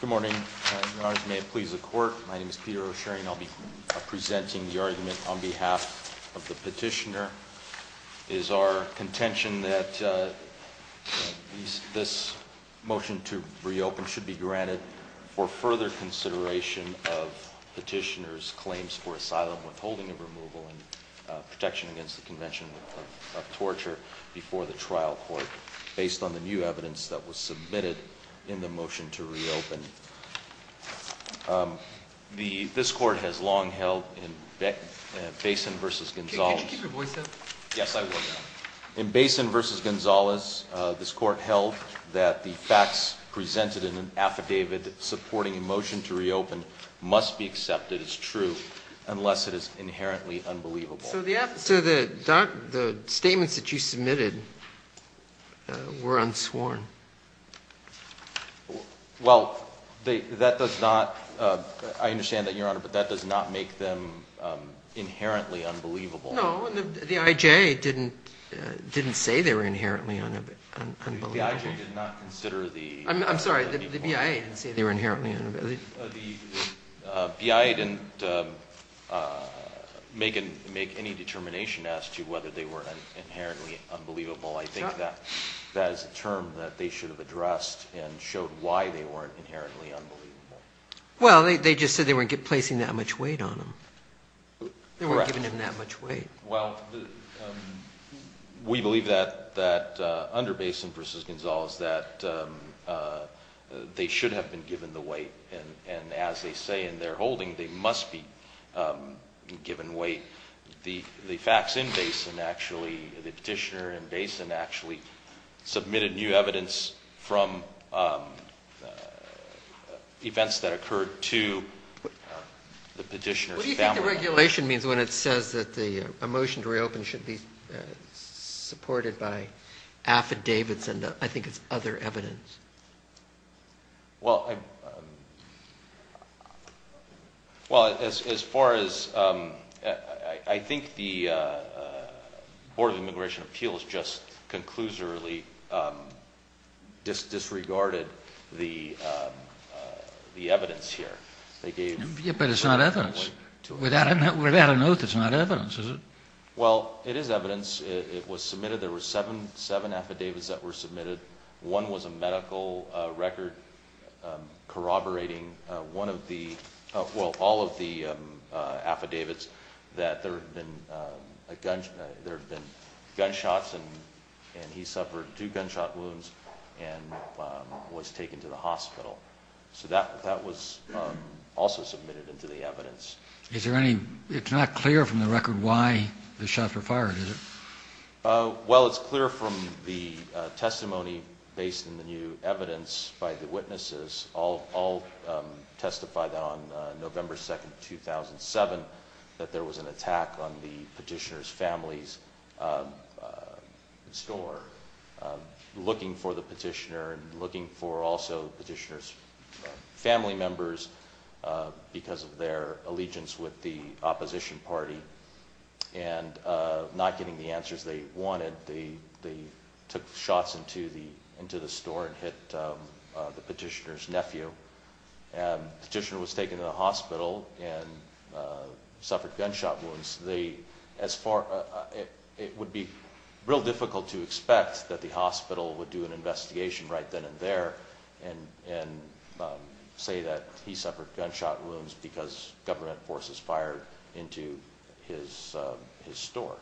Good morning. Your Honors, may it please the Court, my name is Peter O'Shearing. I'll be presenting the argument on behalf of the petitioner. It is our contention that this motion to reopen should be granted for further consideration of petitioner's claims for asylum, withholding of removal, and protection against the Convention of Torture before the trial court, based on the new evidence that was submitted in the motion to reopen. This Court has long held in Basin v. Gonzalez Can you keep your voice up? Yes, I will now. In Basin v. Gonzalez, this Court held that the facts presented in an affidavit supporting a motion to reopen must be accepted as true unless it is inherently unbelievable. So the statements that you submitted were unsworn. Well, that does not – I understand that, Your Honor, but that does not make them inherently unbelievable. No, the IJ didn't say they were inherently unbelievable. The IJ did not consider the – I'm sorry, the BIA didn't say they were inherently unbelievable. The BIA didn't make any determination as to whether they were inherently unbelievable. I think that is a term that they should have addressed and showed why they weren't inherently unbelievable. Well, they just said they weren't placing that much weight on them. Correct. They weren't giving them that much weight. Well, we believe that under Basin v. Gonzalez that they should have been given the weight. And as they say in their holding, they must be given weight. The facts in Basin actually – the petitioner in Basin actually submitted new evidence from events that occurred to the petitioner's family. What do you think the regulation means when it says that a motion to reopen should be supported by affidavits and I think it's other evidence? Well, as far as – I think the Board of Immigration Appeals just conclusively disregarded the evidence here. But it's not evidence. Without a note, it's not evidence, is it? Well, it is evidence. It was submitted. There were seven affidavits that were submitted. One was a medical record corroborating one of the – well, all of the affidavits that there had been gunshots and he suffered two gunshot wounds and was taken to the hospital. So that was also submitted into the evidence. Is there any – it's not clear from the record why the shots were fired, is it? Well, it's clear from the testimony based in the new evidence by the witnesses. All testify that on November 2nd, 2007, that there was an attack on the petitioner's family's store, looking for the petitioner and looking for also the petitioner's family members because of their allegiance with the opposition party and not getting the answers they wanted, they took shots into the store and hit the petitioner's nephew. The petitioner was taken to the hospital and suffered gunshot wounds. They – as far – it would be real difficult to expect that the hospital would do an investigation right then and there and say that he suffered gunshot wounds because government forces fired into his store.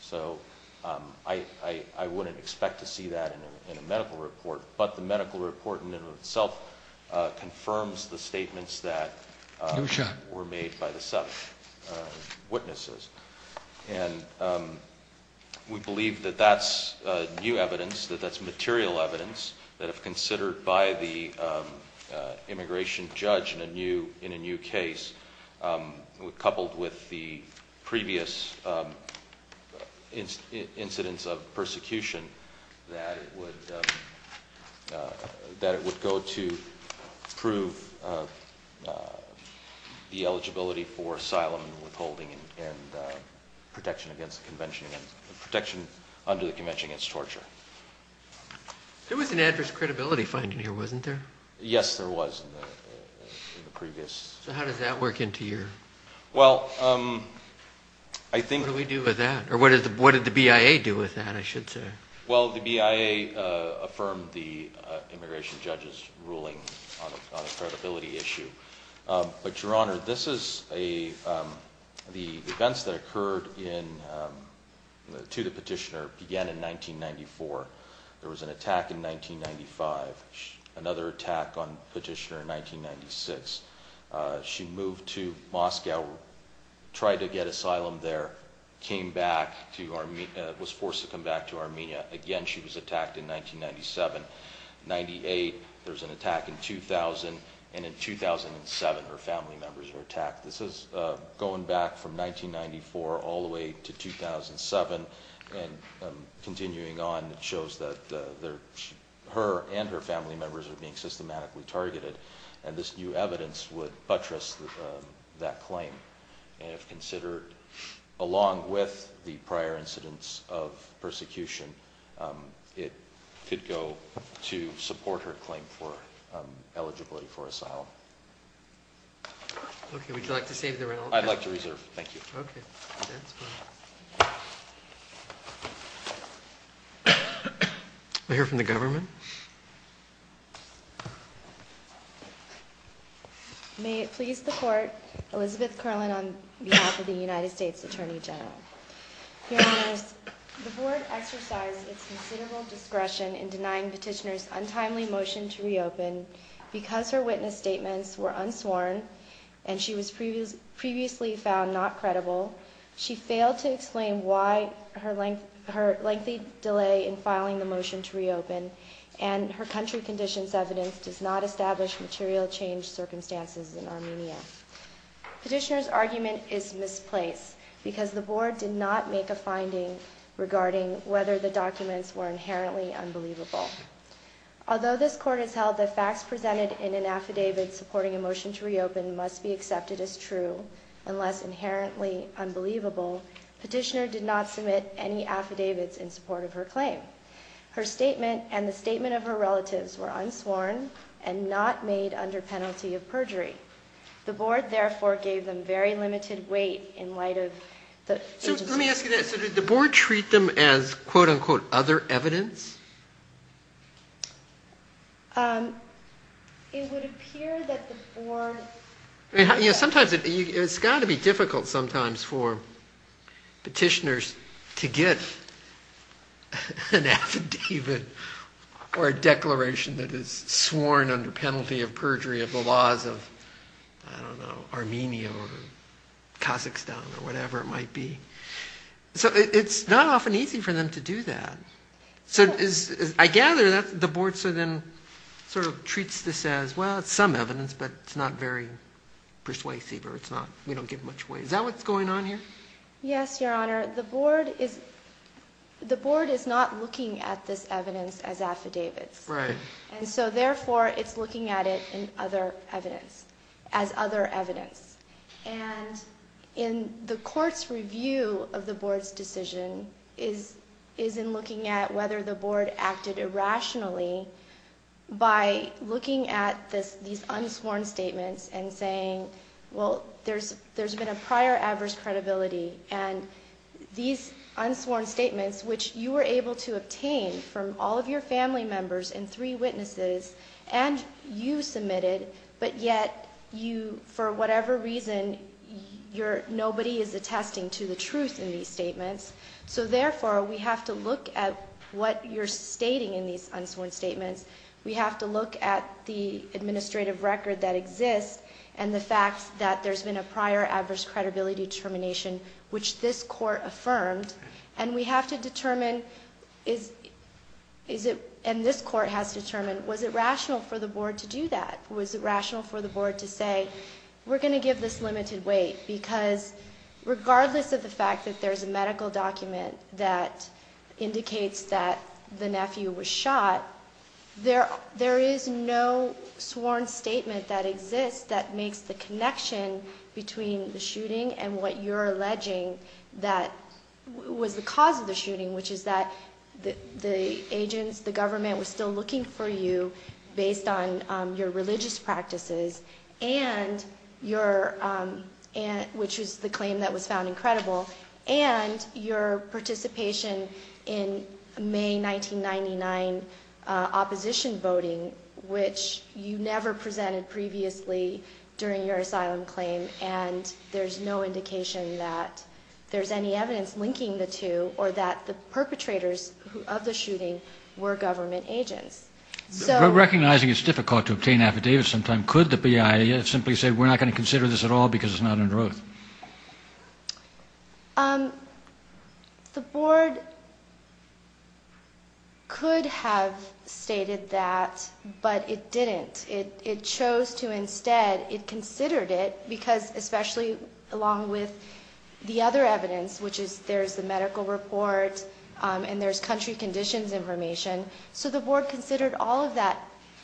So I wouldn't expect to see that in a medical report. But the medical report in and of itself confirms the statements that were made by the seven witnesses. And we believe that that's new evidence, that that's material evidence that if considered by the immigration judge in a new case, coupled with the previous incidents of persecution, that it would go to prove the eligibility for asylum and withholding and protection against the convention – protection under the convention against torture. There was an adverse credibility finding here, wasn't there? Yes, there was in the previous. So how does that work into your – what do we do with that? Or what did the BIA do with that, I should say? Well, the BIA affirmed the immigration judge's ruling on a credibility issue. But, Your Honor, this is a – the events that occurred in – to the petitioner began in 1994. There was an attack in 1995, another attack on the petitioner in 1996. She moved to Moscow, tried to get asylum there, came back to – was forced to come back to Armenia. Again, she was attacked in 1997. In 1998, there was an attack in 2000. And in 2007, her family members were attacked. This is going back from 1994 all the way to 2007. And continuing on, it shows that her and her family members are being systematically targeted. And this new evidence would buttress that claim. And if considered along with the prior incidents of persecution, it could go to support her claim for eligibility for asylum. Okay. Would you like to save the room? I'd like to reserve. Thank you. Okay. May I hear from the government? May it please the Court, Elizabeth Kerlin on behalf of the United States Attorney General. Your Honor, the Board exercised its considerable discretion in denying petitioner's untimely motion to reopen because her witness statements were unsworn and she was previously found not credible. She failed to explain why her lengthy delay in filing the motion to reopen and her country conditions evidence does not establish material change circumstances in Armenia. Petitioner's argument is misplaced because the Board did not make a finding regarding whether the documents were inherently unbelievable. Although this Court has held that facts presented in an affidavit supporting a motion to reopen must be accepted as true unless inherently unbelievable, petitioner did not submit any affidavits in support of her claim. Her statement and the statement of her relatives were unsworn and not made under penalty of perjury. The Board, therefore, gave them very limited weight in light of the agency. So did the Board treat them as quote-unquote other evidence? It would appear that the Board... Yeah, sometimes it's got to be difficult sometimes for petitioners to get an affidavit or a declaration that is sworn under penalty of perjury of the laws of, I don't know, Armenia or Kazakhstan or whatever it might be. So it's not often easy for them to do that. So I gather that the Board sort of treats this as, well, it's some evidence but it's not very persuasive or we don't give much weight. Is that what's going on here? Yes, Your Honor. The Board is not looking at this evidence as affidavits. Right. And so, therefore, it's looking at it as other evidence. And in the Court's review of the Board's decision is in looking at whether the Board acted irrationally by looking at these unsworn statements and saying, well, there's been a prior adverse credibility and these unsworn statements, which you were able to obtain from all of your family members and three witnesses and you submitted, but yet you, for whatever reason, nobody is attesting to the truth in these statements. So, therefore, we have to look at what you're stating in these unsworn statements. We have to look at the administrative record that exists and the fact that there's been a prior adverse credibility determination, which this Court affirmed, and we have to determine, and this Court has to determine, was it rational for the Board to do that? Was it rational for the Board to say, we're going to give this limited weight? Because regardless of the fact that there's a medical document that indicates that the nephew was shot, there is no sworn statement that exists that makes the connection between the shooting and what you're alleging that was the cause of the shooting, which is that the agents, the government, was still looking for you based on your religious practices, which was the claim that was found incredible, and your participation in May 1999 opposition voting, which you never presented previously during your asylum claim, and there's no indication that there's any evidence linking the two or that the perpetrators of the shooting were government agents. Recognizing it's difficult to obtain affidavits sometimes, could the BIA simply say, we're not going to consider this at all because it's not under oath? The Board could have stated that, but it didn't. It chose to instead, it considered it because especially along with the other evidence, which is there's the medical report and there's country conditions information, so the Board considered all of that.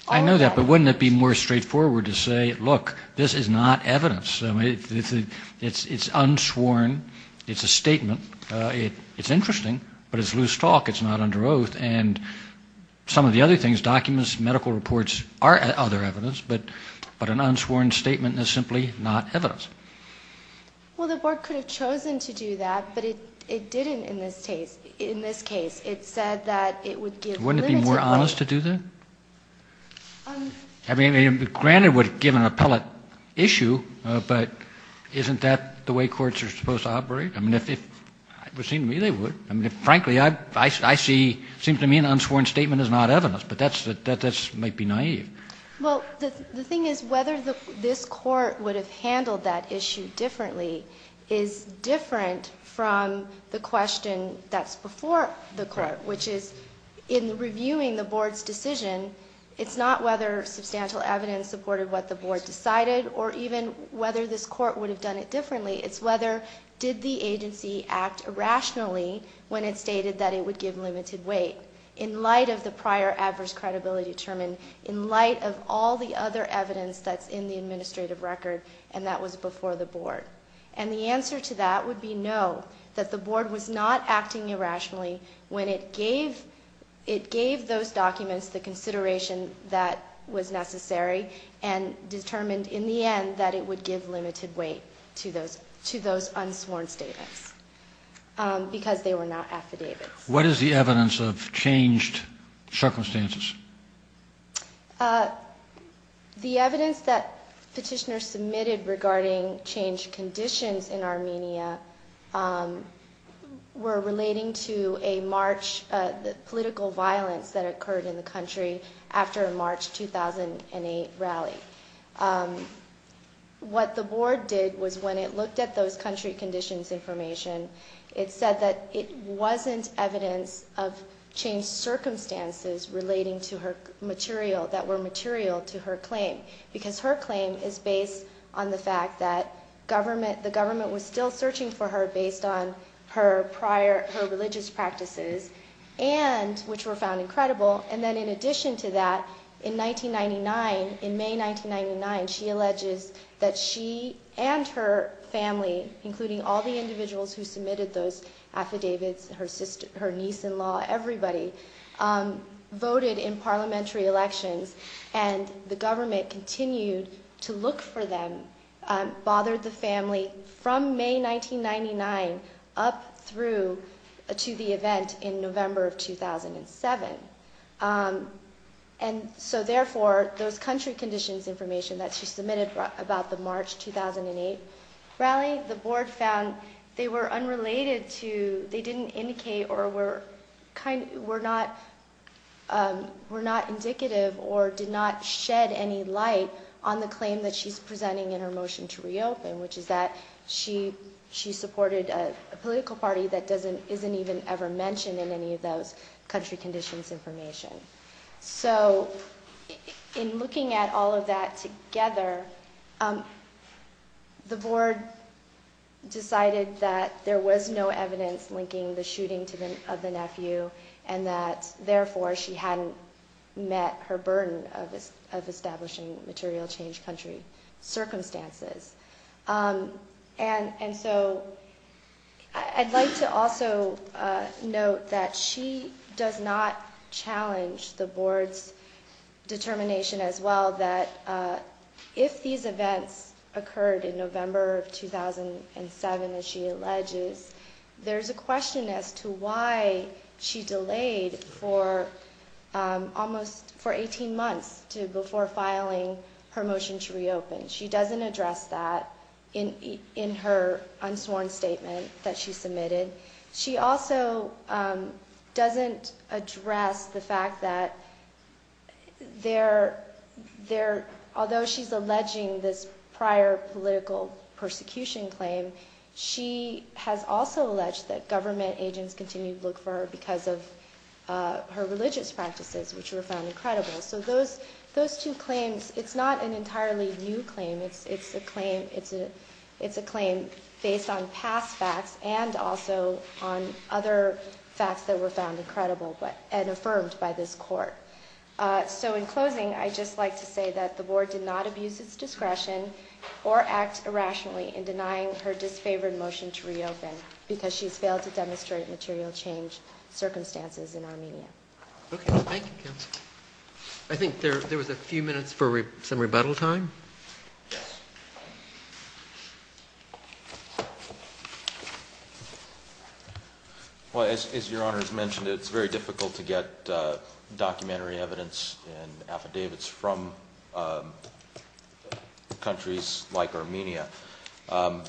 I know that, but wouldn't it be more straightforward to say, look, this is not evidence. It's unsworn, it's a statement, it's interesting, but it's loose talk, it's not under oath, and some of the other things, documents, medical reports, are other evidence, but an unsworn statement is simply not evidence. Well, the Board could have chosen to do that, but it didn't in this case. It said that it would give... Wouldn't it be more honest to do that? I mean, granted, it would give an appellate issue, but isn't that the way courts are supposed to operate? I mean, it would seem to me they would. Frankly, I see, it seems to me an unsworn statement is not evidence, but that might be naive. Well, the thing is whether this Court would have handled that issue differently is different from the question that's before the Court, which is in reviewing the Board's decision, it's not whether substantial evidence supported what the Board decided, or even whether this Court would have done it differently, it's whether did the agency act irrationally when it stated that it would give limited weight in light of the prior adverse credibility determined, in light of all the other evidence that's in the administrative record, and that was before the Board. And the answer to that would be no, that the Board was not acting irrationally when it gave... that was necessary, and determined in the end that it would give limited weight to those unsworn statements, because they were not affidavits. What is the evidence of changed circumstances? The evidence that Petitioner submitted regarding changed conditions in Armenia were relating to a march, the political violence that occurred in the country after a March 2008 rally. What the Board did was when it looked at those country conditions information, it said that it wasn't evidence of changed circumstances relating to her material, that were material to her claim, because her claim is based on the fact that government, the government was still searching for her based on her prior, her religious practices, and, which were found incredible, and then in addition to that, in 1999, in May 1999, she alleges that she and her family, including all the individuals who submitted those affidavits, her niece-in-law, everybody, voted in parliamentary elections, and the government continued to look for them, bothered the family from May 1999 up through to the event in November of 2007. And so therefore, those country conditions information that she submitted about the March 2008 rally, the Board found they were unrelated to, they didn't indicate, or were not indicative, or did not shed any light on the claim that she's presenting in her motion to reopen, which is that she supported a political party that isn't even ever mentioned in any of those country conditions information. So in looking at all of that together, the Board decided that there was no evidence linking the shooting of the nephew, and that therefore she hadn't met her burden of establishing material change country circumstances. And so I'd like to also note that she does not challenge the Board's determination as well that if these events occurred in November of 2007, as she alleges, there's a question as to why she delayed for almost, for 18 months before filing her motion to reopen. She doesn't address that in her unsworn statement that she submitted. She also doesn't address the fact that there, although she's alleging this prior political persecution claim, she has also alleged that government agents continued to look for her because of her religious practices, which were found incredible. So those two claims, it's not an entirely new claim. It's a claim based on past facts and also on other facts that were found incredible and affirmed by this Court. So in closing, I'd just like to say that the Board did not abuse its discretion or act irrationally in denying her disfavored motion. to reopen because she's failed to demonstrate material change circumstances in Armenia. Okay. Thank you, Counsel. I think there was a few minutes for some rebuttal time. Well, as Your Honor has mentioned, it's very difficult to get documentary evidence and affidavits from countries like Armenia. I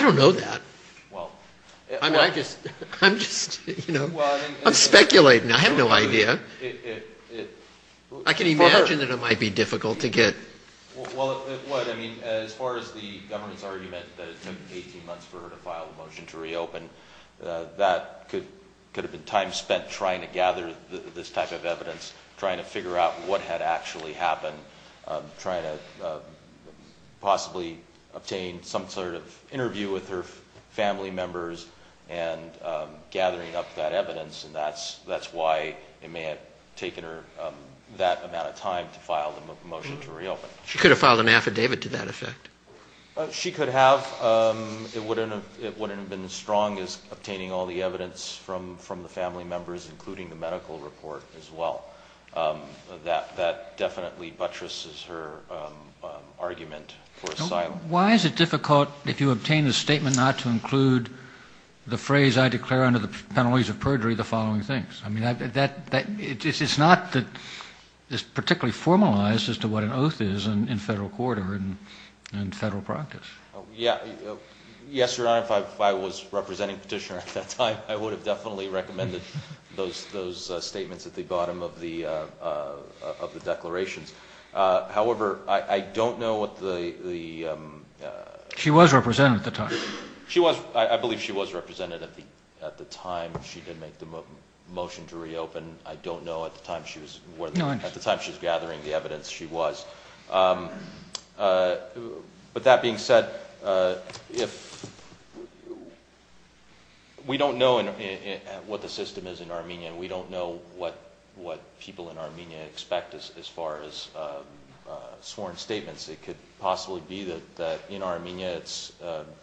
don't know that. I'm just, you know, I'm speculating. I have no idea. I can imagine that it might be difficult to get. Well, as far as the government's argument that it took 18 months for her to file a motion to reopen, that could have been time spent trying to gather this type of evidence, trying to figure out what had actually happened, trying to possibly obtain some sort of interview with her family members and gathering up that evidence. And that's why it may have taken her that amount of time to file the motion to reopen. She could have filed an affidavit to that effect. She could have. It wouldn't have been as strong as obtaining all the evidence from the family members, including the medical report as well. That definitely buttresses her argument for asylum. Why is it difficult, if you obtain a statement, not to include the phrase, I declare under the penalties of perjury, the following things? I mean, it's not that it's particularly formalized as to what an oath is in federal court or in federal practice. Yes, Your Honor, if I was representing Petitioner at that time, I would have definitely recommended those statements at the bottom of the declarations. However, I don't know what the... She was represented at the time. She was. I believe she was represented at the time she did make the motion to reopen. I don't know at the time she was... No interest. At the time she was gathering the evidence, she was. But that being said, we don't know what the system is in Armenia. We don't know what people in Armenia expect as far as sworn statements. It could possibly be that in Armenia it's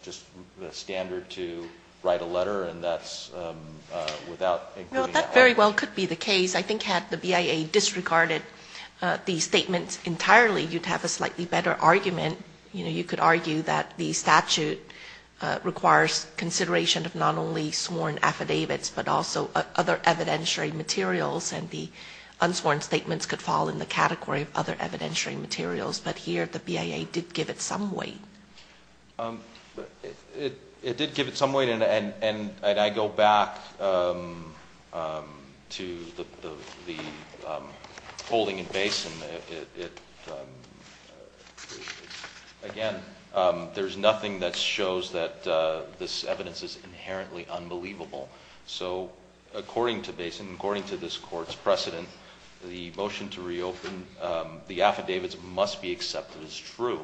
just the standard to write a letter and that's without... That very well could be the case. I think had the BIA disregarded these statements entirely, you'd have a slightly better argument. You could argue that the statute requires consideration of not only sworn affidavits but also other evidentiary materials and the unsworn statements could fall in the category of other evidentiary materials. But here the BIA did give it some weight. It did give it some weight and I go back to the holding in Basin. Again, there's nothing that shows that this evidence is inherently unbelievable. So according to Basin, according to this court's precedent, the motion to reopen, the affidavits must be accepted as true.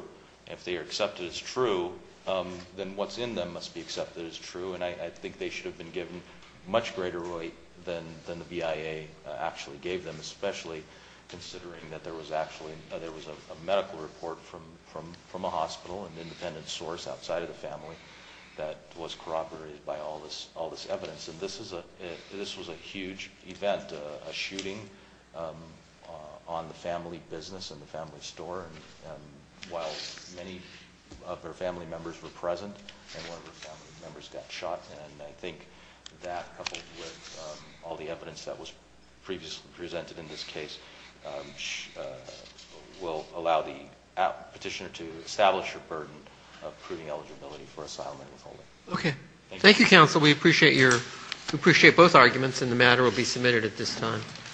If they are accepted as true, then what's in them must be accepted as true. And I think they should have been given much greater weight than the BIA actually gave them, especially considering that there was a medical report from a hospital, an independent source outside of the family, that was corroborated by all this evidence. And this was a huge event, a shooting on the family business and the family store while many of their family members were present and one of their family members got shot. And I think that, coupled with all the evidence that was previously presented in this case, will allow the petitioner to establish her burden of proving eligibility for asylum and withholding. Okay. Thank you, counsel. We appreciate both arguments and the matter will be submitted at this time.